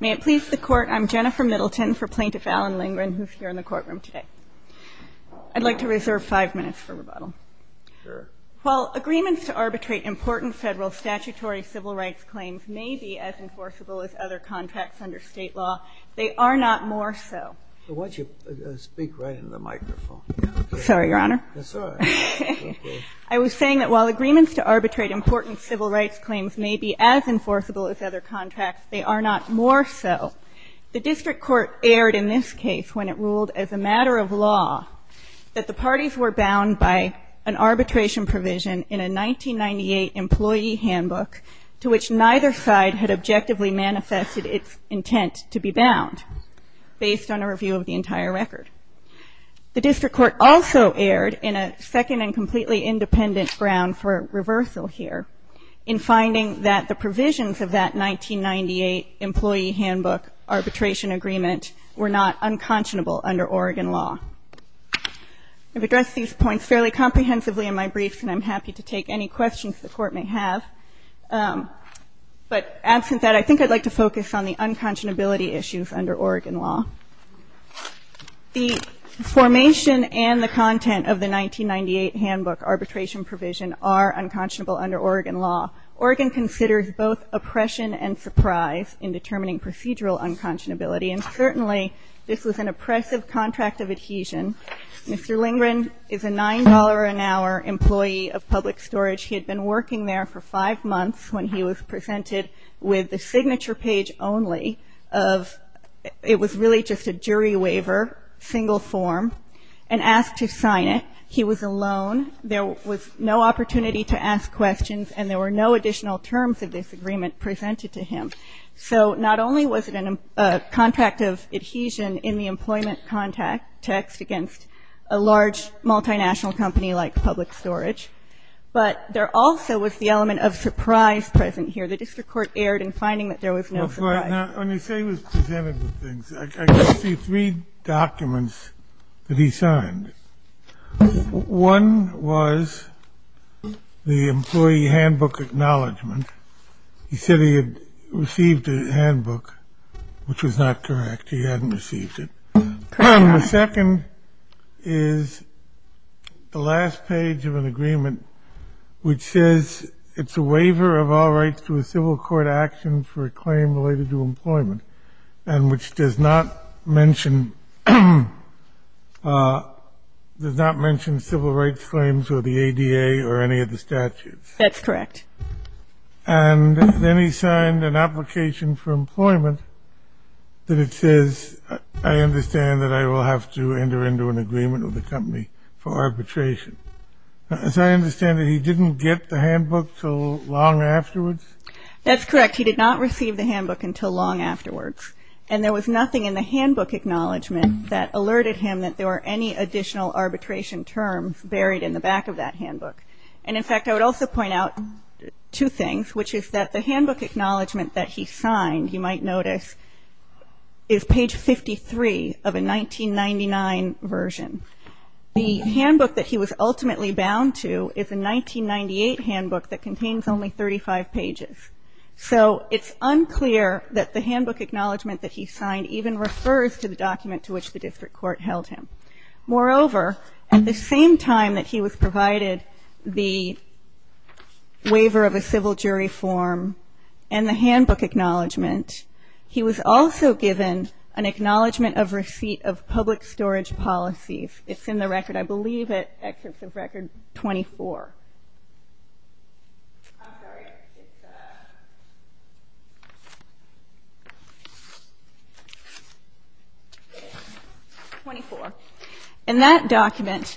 May it please the Court, I'm Jennifer Middleton for Plaintiff Alan Lindgren, who is here in the courtroom today. I'd like to reserve five minutes for rebuttal. While agreements to arbitrate important federal statutory civil rights claims may be as enforceable as other contracts under state law, they are not more so. Why don't you speak right into the microphone. Sorry, Your Honor. I was saying that while agreements to arbitrate important civil rights claims may be as enforceable as other contracts, they are not more so. The district court erred in this case when it ruled as a matter of law that the parties were bound by an arbitration provision in a 1998 employee handbook to which neither side had objectively manifested its intent to be bound, based on a review of the entire record. The district court also erred in a second and completely independent ground for reversal here in finding that the provisions of that 1998 employee handbook arbitration agreement were not unconscionable under Oregon law. I've addressed these points fairly comprehensively in my briefs, and I'm happy to take any questions the Court may have. But absent that, I think I'd like to focus on the unconscionability issues under Oregon law. The formation and the content of the 1998 handbook arbitration provision are unconscionable under Oregon law. Oregon considers both oppression and surprise in determining procedural unconscionability, and certainly this was an oppressive contract of adhesion. Mr. Lingren is a $9 an hour employee of public storage. He had been working there for five years, and he was given basically just a jury waiver, single form, and asked to sign it. He was alone. There was no opportunity to ask questions, and there were no additional terms of this agreement presented to him. So not only was it a contract of adhesion in the employment contact text against a large multinational company like public storage, but there also was the element of surprise present here. The district court erred in finding that there was no surprise. Now, when you say it was presented with things, I can see three documents that he signed. One was the employee handbook acknowledgment. He said he had received a handbook, which was not correct. He hadn't received it. And the second is the last page of an agreement which says it's a waiver of all rights to a civil court action for a claim related to employment and which does not mention civil rights claims or the ADA or any of the statutes. That's correct. And then he signed an application for employment that it says, I understand that I will have to enter into an agreement with the company for arbitration. As I understand it, he didn't get the handbook until long afterwards? That's correct. He did not receive the handbook until long afterwards. And there was nothing in the handbook acknowledgment that alerted him that there were any additional arbitration terms buried in the back of that handbook. And in fact, I would also point out two things, which is that the handbook acknowledgment that he signed, you might notice, is page 53 of a 1999 version. The handbook that he was ultimately bound to is a 1998 handbook that contains only 35 pages. So it's unclear that the handbook acknowledgment that he signed even refers to the document to which the district court held him. Moreover, at the same time that he was provided the waiver of a civil jury form and the handbook acknowledgment, he was also given an acknowledgment of receipt of public storage policies. It's in the record, I believe it, excerpts of Record 24. And that document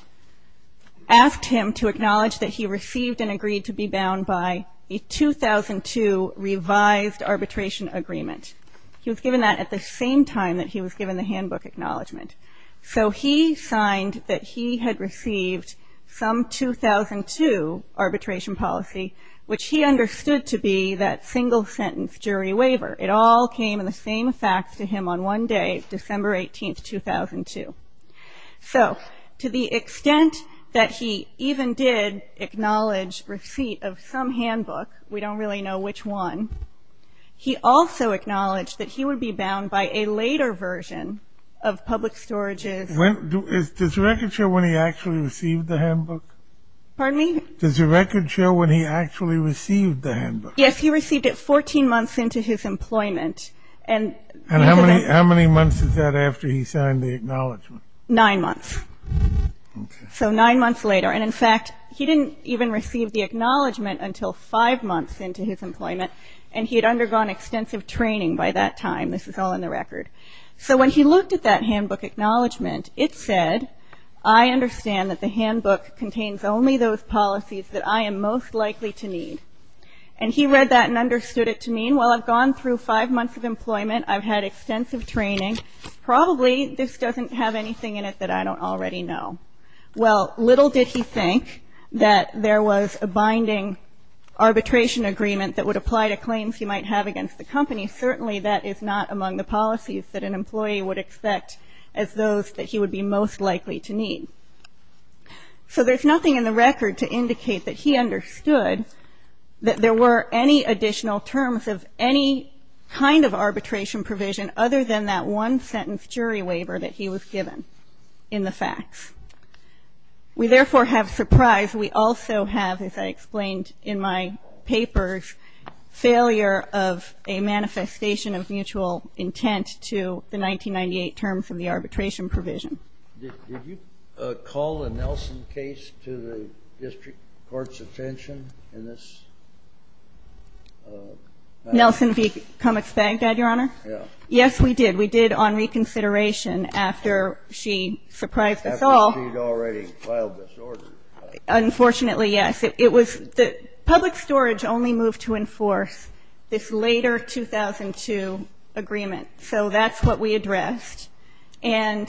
asked him to acknowledge that he received and agreed to be bound by a 2002 revised arbitration agreement. He was given that at the same time that he was given the handbook acknowledgment. So he signed that he had received some 2002 arbitration policy, which he understood to be that single sentence jury waiver. It all came in the same fax to him on one day, December 18, 2002. So to the extent that he even did acknowledge receipt of some handbook, we don't really know which one, he also acknowledged that he would be bound by a later version of public storages. Does the record show when he actually received the handbook? Pardon me? Does the record show when he actually received the handbook? Yes, he received it 14 months into his employment. And how many months is that after he signed the acknowledgment? Nine months. So nine months later. And in fact, he didn't even receive the acknowledgment until five months into his employment, and he had undergone extensive training by that time. This is all in the record. So when he looked at that handbook acknowledgment, it said, I understand that the handbook contains only those policies that I am most likely to need. And he read that and understood it to mean, well, I've gone through five months of employment, I've had extensive training, probably this doesn't have anything in it that I don't already know. Well, little did he think that there was a binding arbitration agreement that would apply to claims he might have against the company. Certainly that is not among the policies that an employee would expect as those that he would be most likely to need. So there's nothing in the record to indicate that he understood that there were any additional terms of any kind of arbitration provision other than that one-sentence jury waiver that he was given in the facts. We therefore have surprise. We also have, as I explained in my papers, failure of a manifestation of mutual intent to the 1998 terms of the arbitration provision. Did you call a Nelson case to the district court's attention in this matter? Nelson v. Cummings-Bagdad, Your Honor? Yes. Yes, we did. We did on reconsideration after she surprised us all. After she had already filed this order. Unfortunately, yes. It was the public storage only moved to enforce this later 2002 agreement. So that's what we addressed. And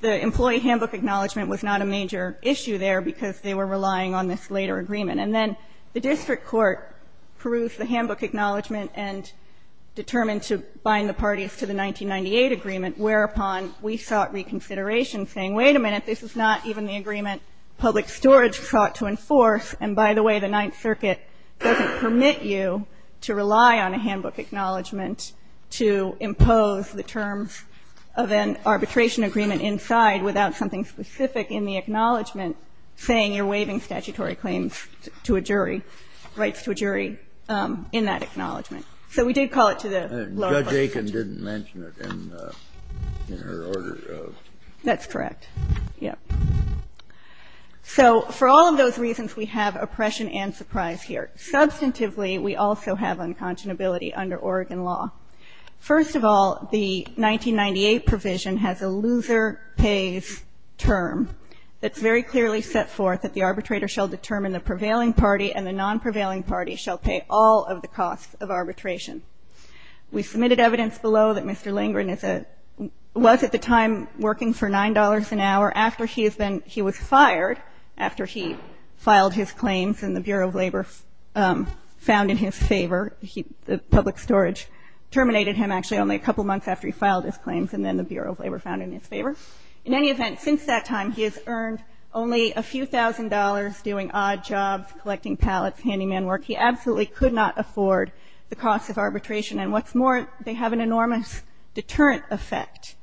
the employee handbook acknowledgment was not a major issue there because they were relying on this later agreement. And then the district court perused the handbook acknowledgment and determined to bind the parties to the 1998 agreement, whereupon we sought reconsideration saying, wait a minute, this is not even the agreement public storage sought to enforce. And by the way, the Ninth Circuit doesn't permit you to rely on a handbook acknowledgment to impose the terms of an arbitration agreement inside without something specific in the acknowledgment saying you're waiving statutory claims to a jury, rights to a jury, in that acknowledgment. So we did call it to the lower court's attention. Judge Aiken didn't mention it in her order. That's correct. So for all of those reasons, we have oppression and surprise here. Substantively, we also have unconscionability under Oregon law. First of all, the 1998 provision has a loser pays term that's very clearly set forth that the arbitrator shall determine the prevailing party and the non-prevailing party shall pay all of the costs of arbitration. We submitted evidence below that Mr. Lindgren was at the time working for $9 an hour after he was fired after he filed his claims and the Bureau of Labor found in his favor. The public storage terminated him actually only a couple months after he filed his claims and then the Bureau of Labor found in his favor. In any event, since that time, he has earned only a few thousand dollars doing odd jobs, collecting pallets, handing in work. He absolutely could not afford the cost of arbitration and what's more, they have an enormous deterrent effect.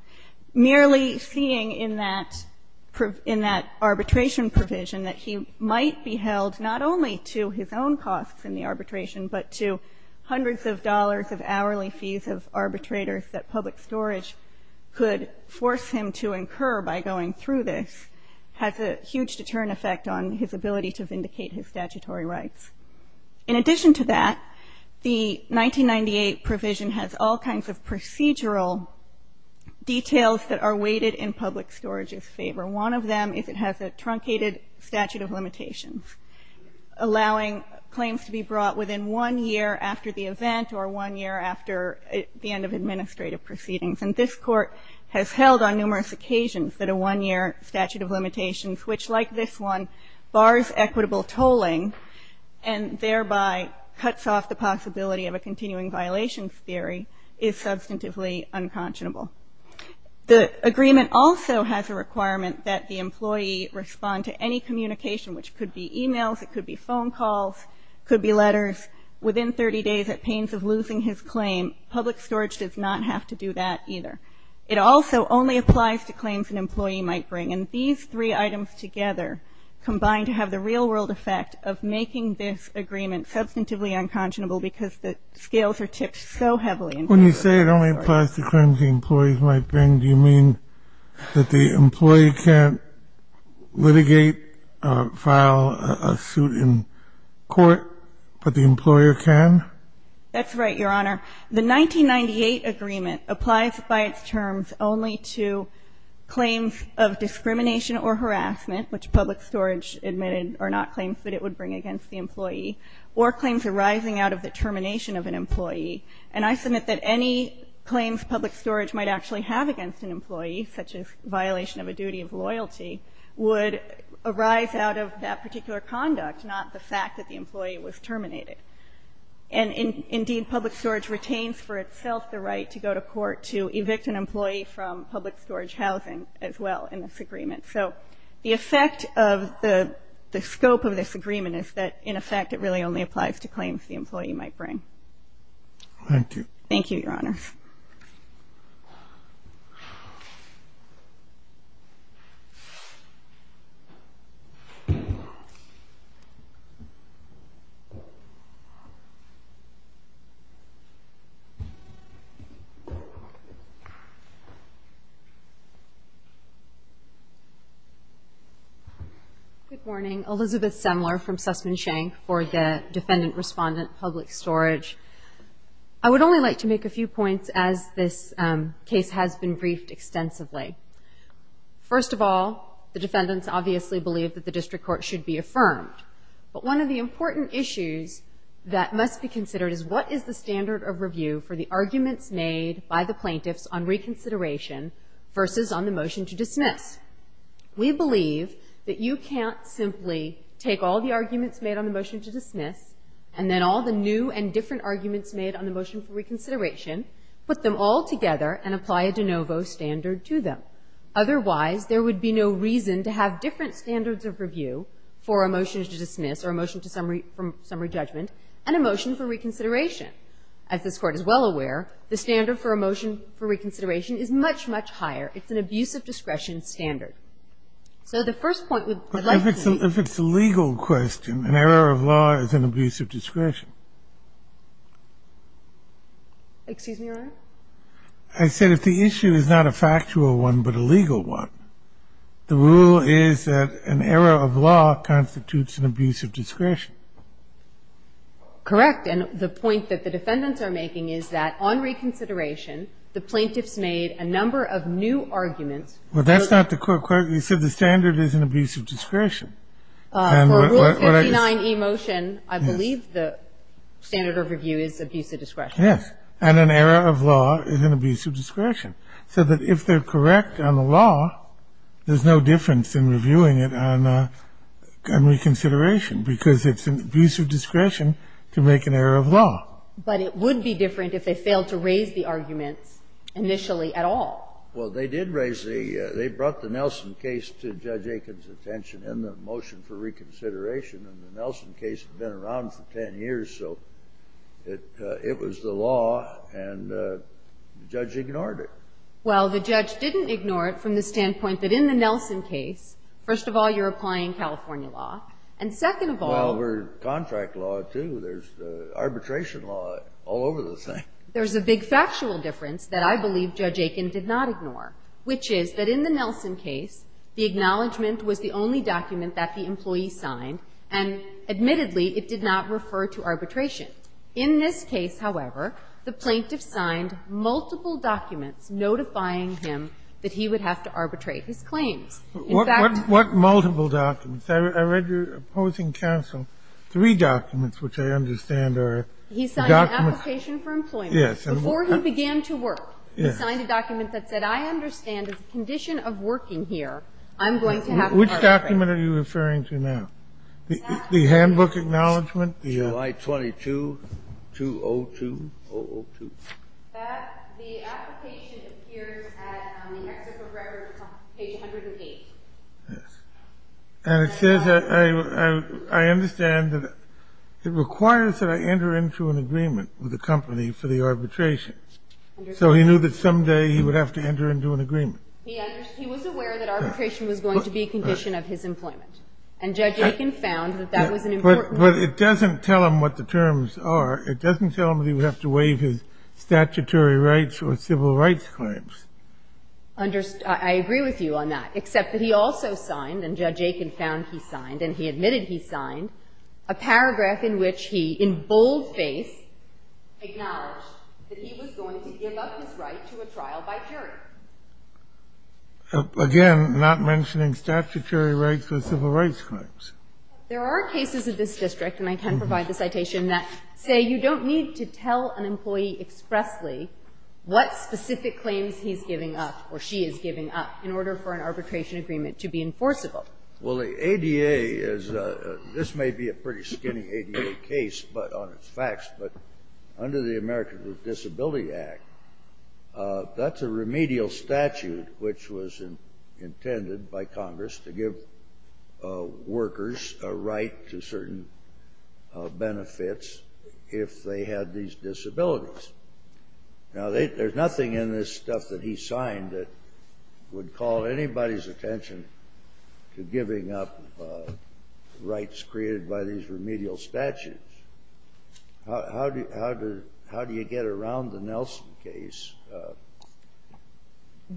Merely seeing in that arbitration provision that he might be held not only to his own costs in the arbitration but to hundreds of dollars of hourly fees of arbitrators that public storage could force him to incur by going through this has a huge deterrent effect on his ability to vindicate his statutory rights. In addition to that, the 1998 provision has all kinds of procedural details that are weighted in public storage's favor. One of them is it has a truncated statute of limitations allowing claims to be brought within one year after the event or one year after the end of administrative proceedings. And this court has held on numerous occasions that a one-year statute of limitations which, like this one, bars equitable tolling and thereby cuts off the possibility of a continuing violations theory is substantively unconscionable. The agreement also has a requirement that the employee respond to any communication which could be emails, it could be phone calls, it could be letters. Within 30 days at pains of losing his claim, public storage does not have to do that either. It also only applies to claims an employee might bring. And these three items together combine to have the real-world effect of making this agreement substantively unconscionable because the scales are tipped so heavily. When you say it only applies to claims the employees might bring, do you mean that the employee can't litigate, file a suit in court but the employer can? That's right, Your Honor. The 1998 agreement applies by its terms only to claims of discrimination or harassment, which public storage admitted are not claims that it would bring against the employee, or claims arising out of the termination of an employee. And I submit that any claims public storage might actually have against an employee, such as violation of a duty of loyalty, would arise out of that particular conduct, not the fact that the employee was terminated. And indeed, public storage retains for itself the right to go to court to evict an employee from public storage housing as well in this agreement. So the effect of the scope of this agreement is that in effect it really only applies to claims the employee might bring. Thank you. Thank you, Your Honor. Thank you. Good morning. Elizabeth Semler from Sussman Shank for the Defendant Respondent Public Storage. I would only like to make a few points as this case has been briefed extensively. First of all, the defendants obviously believe that the district court should be affirmed. But one of the important issues that must be considered is what is the standard of review for the arguments made by the plaintiffs on reconsideration versus on the motion to dismiss? We believe that you can't simply take all the arguments made on the motion to dismiss and then all the new and different arguments made on the motion for reconsideration, put them all together and apply a de novo standard to them. Otherwise, there would be no reason to have different standards of review for a motion to dismiss or a motion to summary judgment and a motion for reconsideration. As this Court is well aware, the standard for a motion for reconsideration is much, much higher. It's an abuse of discretion standard. So the first point I'd like to make But if it's a legal question, an error of law is an abuse of discretion. Excuse me, Your Honor? I said if the issue is not a factual one but a legal one, the rule is that an error of law constitutes an abuse of discretion. Correct. And the point that the defendants are making is that on reconsideration, the plaintiffs made a number of new arguments. Well, that's not the court question. You said the standard is an abuse of discretion. For Rule 59e motion, I believe the standard of review is abuse of discretion. Yes. And an error of law is an abuse of discretion. So that if they're correct on the law, there's no difference in reviewing it on reconsideration because it's an abuse of discretion to make an error of law. But it would be different if they failed to raise the arguments initially at all. Well, they did raise the they brought the Nelson case to Judge Aiken's attention in the motion for reconsideration and the Nelson case had been around for 10 years, so it was the law and the judge ignored it. Well, the judge didn't ignore it from the standpoint that in the Nelson case, first of all you're applying California law and second of all Well, we're contract law too. There's arbitration law all over the thing. There's a big factual difference that I believe Judge Aiken did not ignore which is that in the Nelson case the acknowledgment was the only document that the employee signed and admittedly it did not refer to arbitration. In this case, however, the plaintiff signed multiple documents notifying him that he would have to arbitrate his claims. In fact What multiple documents? I read your opposing counsel three documents which I understand are He signed an application for employment before he began to work he signed a document that said I understand as a condition of working here I'm going to have to arbitrate. Which document are you referring to now? The handbook acknowledgment? July 22, 2002. The application appears at the exit of record page 108. And it says I understand that it requires that I enter into an agreement with the company for the arbitration. So he knew that someday he would have to enter into an agreement. He was aware that arbitration was going to be a condition of his employment and Judge Aiken found But it doesn't tell him what the terms are It doesn't tell him that he would have to waive his statutory rights or civil rights claims. I agree with you on that. Except that he also signed and Judge Aiken found he signed and he admitted he signed a paragraph in which he in bold face acknowledged that he was going to give up his right to a trial by jury. Again, not mentioning statutory rights or civil rights claims. There are cases of this district and I can provide the citation that say you don't need to tell an employee expressly what specific claims he's giving up or she is giving up in order for an arbitration agreement to be enforceable. Well, the ADA is this may be a pretty skinny ADA case on its facts, but under the Americans with Disabilities Act that's a remedial statute which was intended by Congress to give workers a right to certain benefits if they had these disabilities. Now, there's nothing in this stuff that he signed that would call anybody's attention to giving up rights created by these remedial statutes. How do you get around the Nelson case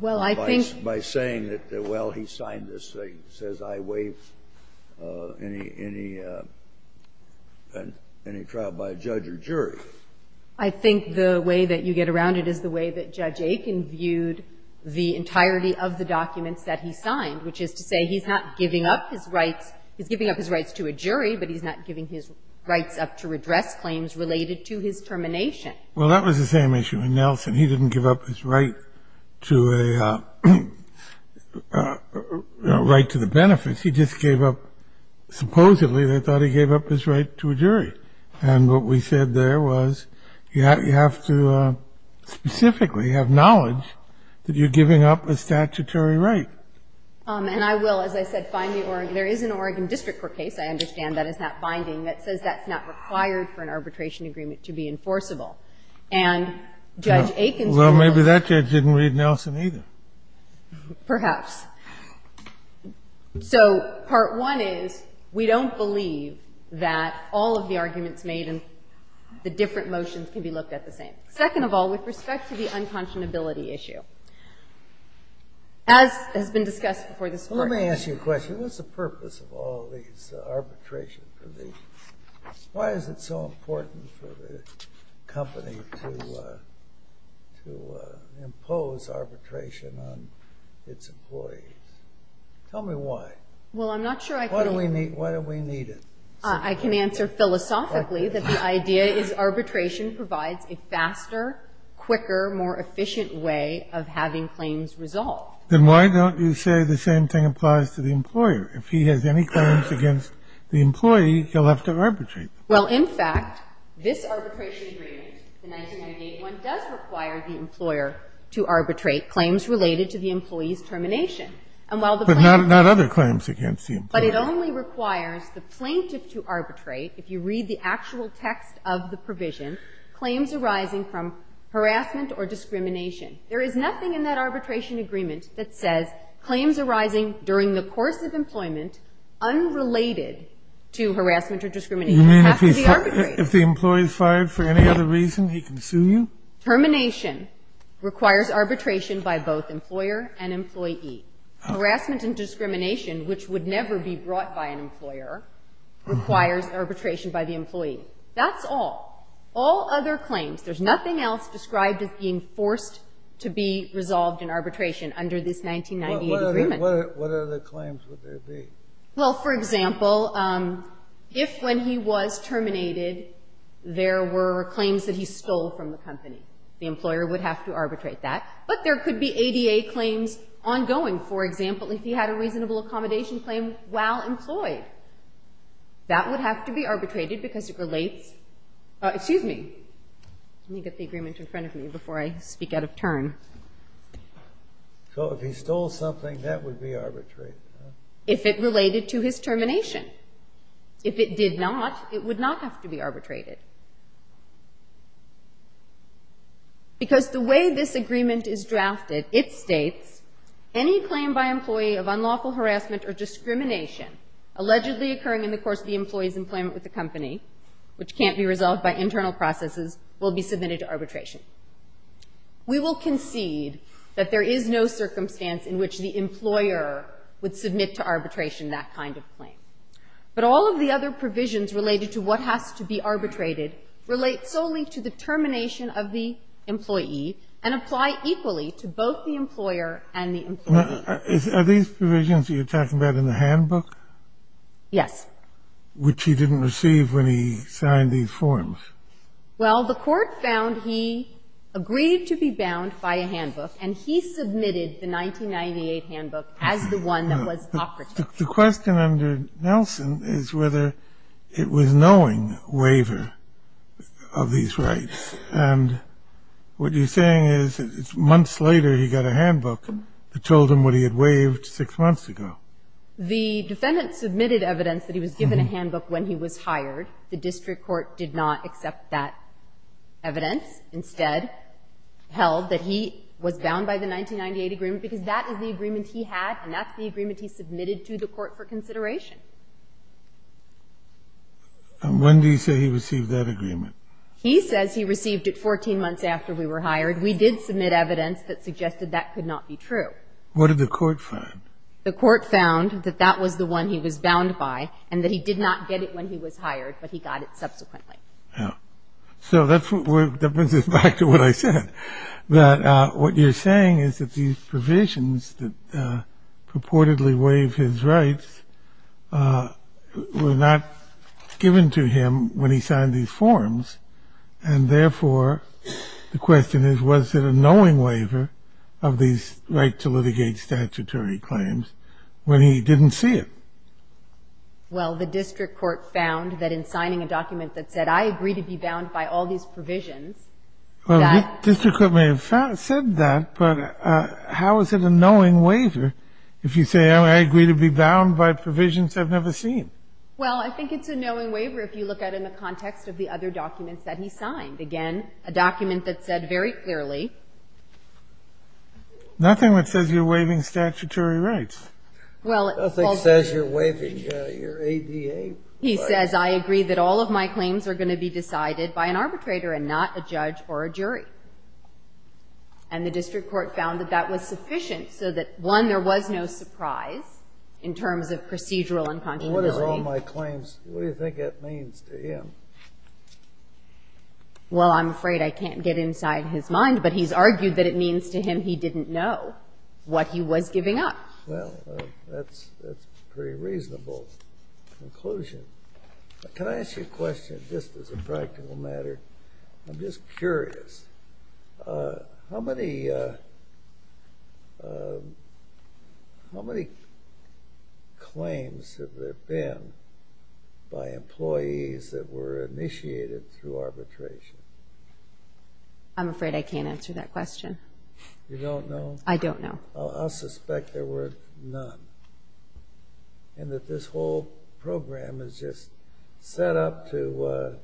by saying that well, he signed this thing that says I waive any trial by a judge or jury? I think the way that you get around it is the way that Judge Aiken viewed the entirety of the documents that he signed which is to say he's not giving up his rights. He's giving up his rights to a jury but he's not giving his rights up to redress claims related to his termination. Well, that was the same issue with Nelson. He didn't give up his right to a right to the benefits. He just gave up supposedly they thought he gave up his right to a jury. And what we said there was you have to specifically have knowledge that you're giving up a statutory right. And I will, as I said, find the Oregon there is an Oregon District Court case I understand that is not binding that says that's not required for an arbitration agreement to be enforceable. And Judge Aiken Well, maybe that judge didn't read Nelson either. Perhaps. So part one is we don't believe that all of the arguments made in the different motions can be looked at the same. Second of all with respect to the unconscionability issue as has been discussed before this Court Let me ask you a question. What's the purpose of all these arbitrations? Why is it so important for the company to impose arbitration on its employees? Tell me why. Why do we need it? I can answer philosophically that the idea is arbitration provides a faster quicker, more efficient way of having claims resolved. Then why don't you say the same thing applies to the employer? If he has any claims against the employee, he'll have to arbitrate. Well, in fact this arbitration agreement the 1998 one does require the employer to arbitrate claims related to the employee's termination. But not other claims against the employee. But it only requires the plaintiff to arbitrate if you read the actual text of the provision claims arising from harassment or discrimination. There is nothing in that arbitration agreement that says claims arising during the course of employment unrelated to harassment or discrimination. It has to be arbitrated. If the employee is fired for any other reason, he can sue you? Termination requires arbitration by both employer and employee. Harassment and discrimination which would never be brought by an employer requires arbitration by the employee. That's all. All other claims. There's nothing else described as being forced to be resolved in arbitration under this 1998 agreement. What other claims would there be? Well, for example if when he was terminated, there were claims that he stole from the company. The employer would have to arbitrate that. But there could be ADA claims ongoing. For example, if he had a reasonable accommodation claim while employed. That would have to be arbitrated because it relates Excuse me. Let me get the agreement in front of me before I speak out of turn. So if he stole something that would be arbitrated? If it related to his termination. If it did not, it would not have to be arbitrated. Because the way this agreement is drafted, it states any claim by employee of unlawful harassment or discrimination allegedly occurring in the course of the employee's employment with the company which can't be resolved by internal processes will be submitted to arbitration. We will concede that there is no circumstance in which the employer would submit to arbitration that kind of claim. But all of the other provisions related to what has to be arbitrated relate solely to the termination of the employee and apply equally to both the employer and the employee. Are these provisions that you're talking about in the handbook? Yes. Which he didn't receive when he signed these forms. Well, the court found he agreed to be bound by a handbook and he submitted the 1998 handbook as the one that was operated. The question under Nelson is whether it was knowing waiver of these rights. And what you're saying is months later he got a handbook that told him what he had waived six months ago. The defendant submitted evidence that he was given a handbook when he was hired. The district court did not accept that evidence. Instead, held that he was bound by the 1998 agreement because that is the agreement he had and that's the agreement he submitted to the court for consideration. And when do you say he received that agreement? He says he received it 14 months after we were hired. We did submit evidence that suggested that could not be true. What did the court find? The court found that that was the one he was bound by and that he did not get it when he was hired, but he got it subsequently. So that brings us back to what I said. What you're saying is that these provisions that purportedly waive his rights were not given to him when he signed these forms and therefore the question is was it a knowing waiver of these right to litigate statutory claims when he didn't see it? Well, the district court found that in signing a document that said I agree to be bound by all these provisions. Well, the district court may have said that, but how is it a knowing waiver if you say I agree to be bound by provisions I've never seen? Well, I think it's a knowing waiver if you look at it in the context of the other documents that he signed. Again, a document that said very clearly Nothing that says you're waiving statutory rights. Nothing says you're waiving your ADA rights. He says I agree that all of my claims are going to be decided by an arbitrator and not a judge or a jury. And the district court found that that was sufficient so that, one, there was no surprise in terms of procedural incongruity. What is all my claims? What do you think that means to him? Well, I'm afraid I can't get inside his mind, but he's argued that it means to him he didn't know what he was giving up. Well, that's a pretty reasonable conclusion. Can I ask you a question, just as a practical matter? I'm just curious. How many claims have there been by employees that were initiated through arbitration? I'm afraid I can't answer that question. You don't know? I don't know. I'll suspect there were none. And that this whole program is just set up to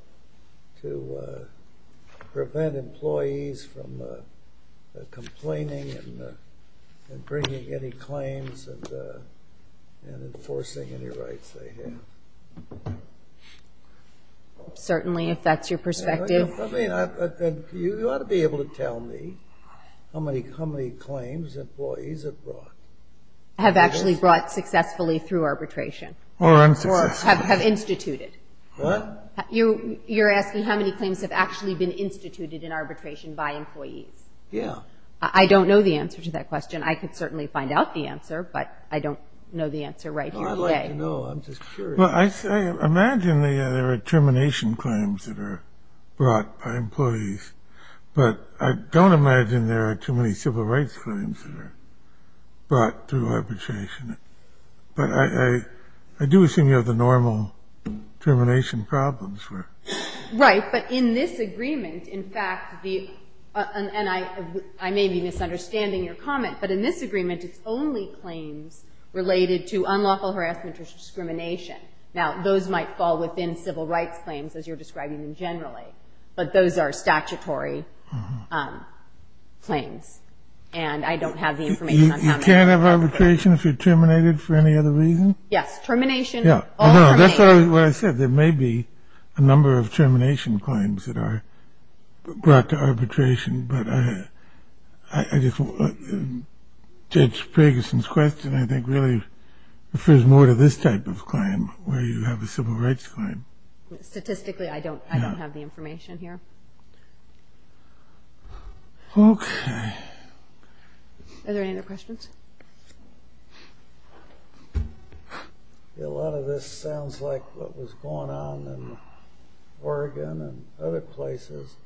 prevent employees from complaining and bringing any claims and enforcing any rights they have. Certainly, if that's your perspective. You ought to be able to tell me how many claims employees have brought. Have actually brought successfully through arbitration. Or have instituted. You're asking how many claims have actually been instituted in arbitration by employees? Yeah. I don't know the answer to that question. I could certainly find out the answer, but I don't know the answer right here today. I'd like to know. I'm just curious. Imagine there are termination claims that are brought by employees, but I don't imagine there are too many civil rights claims that are brought through arbitration. But I do assume you have the normal termination problems. Right. But in this agreement, in fact, and I may be misunderstanding your comment, but in this agreement, it's only claims related to unlawful harassment or discrimination. Now, those might fall within civil rights claims, as you're describing them generally. But those are statutory claims. And I don't have the information on how many. You can't have arbitration if you're terminated for any other reason? Yes. Termination, all are made. That's what I said. There may be a number of termination claims that are brought to arbitration, but Judge Ferguson's question, I think, really refers more to this type of claim where you have a civil rights claim. Statistically, I don't have the information. Okay. Are there any other questions? A lot of this sounds like what was going on in Oregon and other places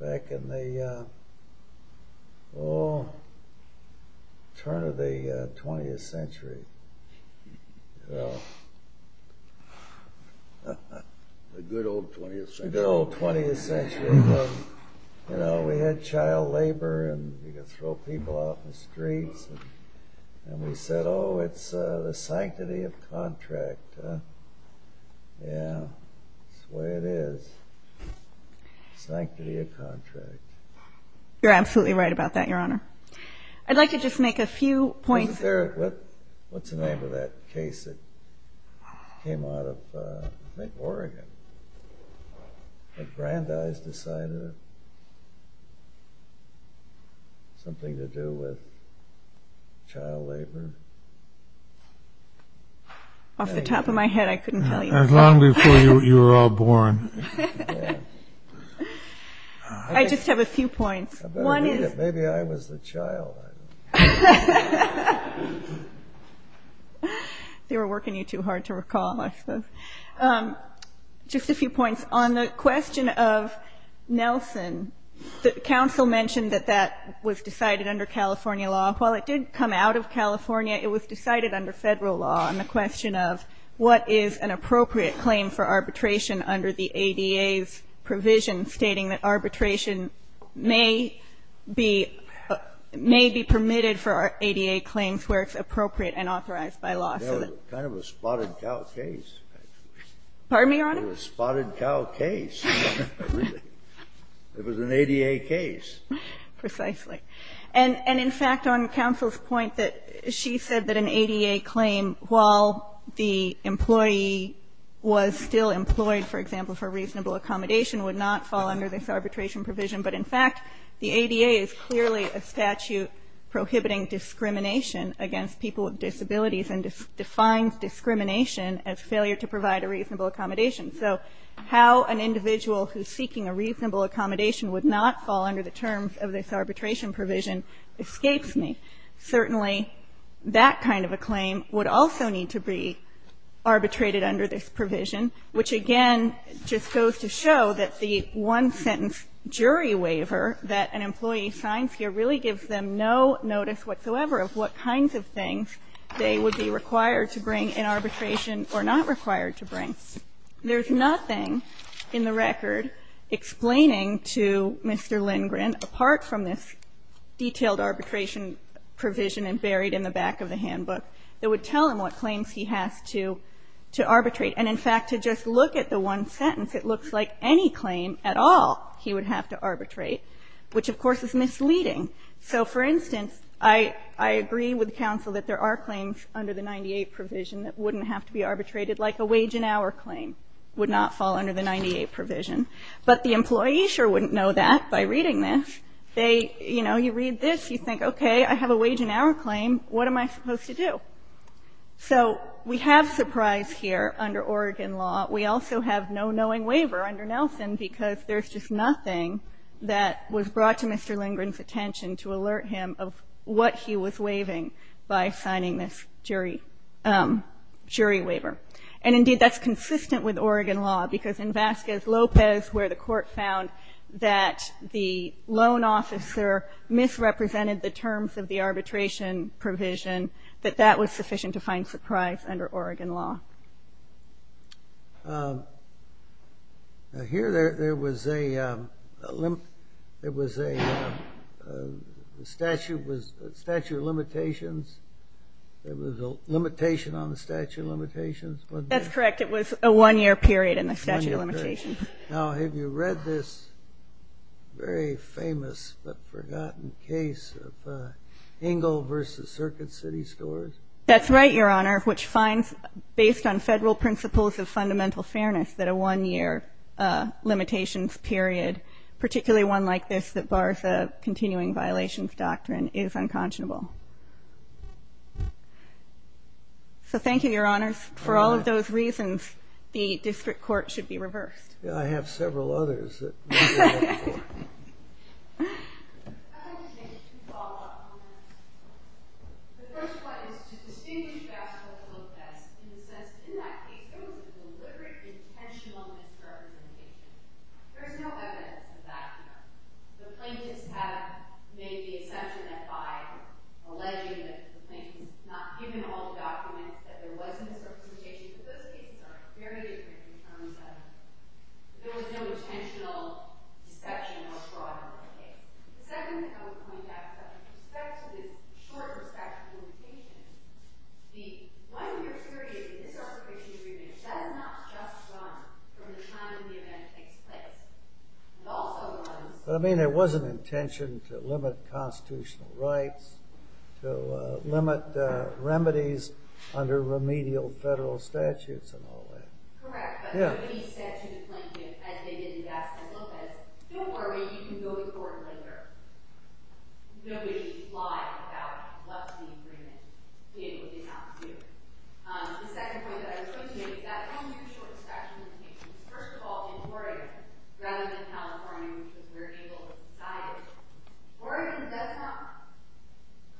back in the old turn of the 20th century. The good old 20th century. The good old 20th century. We had child labor and you could throw people off the streets. And we said, oh, it's the sanctity of contract. Yeah. That's the way it is. Sanctity of contract. You're absolutely right about that, Your Honor. I'd like to just make a few points. What's the name of that case that came out of I think Oregon. But Brandeis decided something to do with child labor. Off the top of my head, I couldn't tell you that. As long before you were all born. I just have a few points. Maybe I was the child. They were working you too hard to recall. Just a few points. On the question of Nelson, the counsel mentioned that that was decided under California law. While it did come out of California, it was decided under federal law on the question of what is an appropriate claim for arbitration under the ADA's provision stating that arbitration may be permitted for ADA claims where it's appropriate and I don't think it was a spotted cow case. Pardon me, Your Honor? It was a spotted cow case. It was an ADA case. Precisely. And in fact, on counsel's point that she said that an ADA claim, while the employee was still employed, for example, for reasonable accommodation, would not fall under this arbitration provision. But in fact, the ADA is clearly a statute prohibiting discrimination against people with disabilities and defines discrimination as failure to provide a reasonable accommodation. So, how an individual who's seeking a reasonable accommodation would not fall under the terms of this arbitration provision escapes me. Certainly, that kind of a claim would also need to be arbitrated under this provision, which again just goes to show that the one-sentence jury waiver that an employee signs here really gives them no notice whatsoever of what kinds of things they would be required to bring in arbitration or not required to bring. There's nothing in the record explaining to Mr. Lindgren, apart from this detailed arbitration provision and buried in the back of the handbook, that would tell him what claims he has to arbitrate. And in fact, to just look at the one sentence, it looks like any claim at all he would have to arbitrate, which of course is misleading. So, for instance, I agree with counsel that there are claims under the 98 provision that wouldn't have to be arbitrated, like a wage and hour claim would not fall under the 98 provision. But the employee sure wouldn't know that by reading this. They, you know, you read this, you think, okay, I have a wage and hour claim. What am I supposed to do? So, we have surprise here under Oregon law. We also have no knowing waiver under Nelson because there's just nothing that was brought to Mr. Lindgren's attention to alert him of what he was waiving by signing this jury jury waiver. And indeed, that's consistent with Oregon law because in Vasquez Lopez, where the court found that the loan officer misrepresented the terms of the arbitration provision, that that was sufficient to find surprise under Oregon law. Now, here there was a there was a statute was statute of limitations there was a limitation on the statute of limitations, wasn't there? That's correct. It was a one-year period in the statute of limitations. Now, have you read this very famous but forgotten case of Engle v. Circuit City Scores? That's right, Your Honor, which finds, based on federal principles of fundamental fairness, that a one-year limitations period, particularly one like this that bars a continuing violations doctrine, is unconscionable. So, thank you, Your Honors. For all of those reasons, the District Court should be reversed. I have several others that we can look for. I'd like to make two follow-up comments. The first one is to distinguish best from the look best in the sense that in that case there was a deliberate, intentional misrepresentation. There is no evidence of that here. The plaintiffs have made the assumption that by alleging that the plaintiff's not given all the documents that there was a misrepresentation but those cases are very different in terms of there was no intentional inspection or fraud in the case. The second thing I would point out is that with respect to the short perspective limitations, the one-year period in this Articulation of Remedies does not just run from the time the event takes place. It also runs... I mean, there was an intention to limit constitutional rights, to limit remedies under remedial federal statutes and all that. Correct, but nobody said to the plaintiff, as they did in Gaston Lopez, don't worry, you can go to court later. Nobody lied about what the agreement did or did not do. The second point that I would point to is that one-year short inspection limitations. First of all, in Oregon, rather than California, which was very able-guided, Oregon does not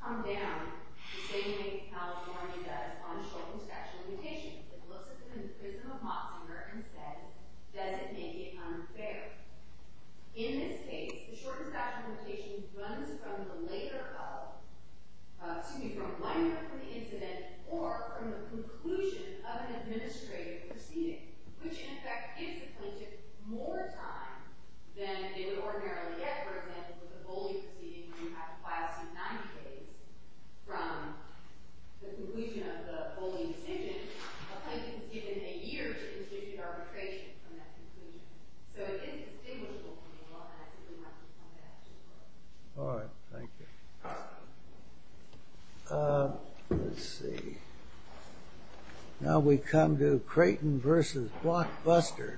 come down the same way California does on short inspection limitations. It looks at them in the prism of Moxinger and says, does it make it unfair? In this case, the short inspection limitation runs from the later follow-up, excuse me, from one year from the incident or from the conclusion of an administrative proceeding, which in effect gives the plaintiff more time than they would ordinarily get, for example, with a bully proceeding where you have to file some 90 days from the conclusion of the bullying decision. A plaintiff is given a year to continue arbitration from that conclusion. So it is distinguishable from the law, and I think we might respond to that as well. All right, thank you. Let's see. Now we come to Creighton v. Blockbuster. Thank you.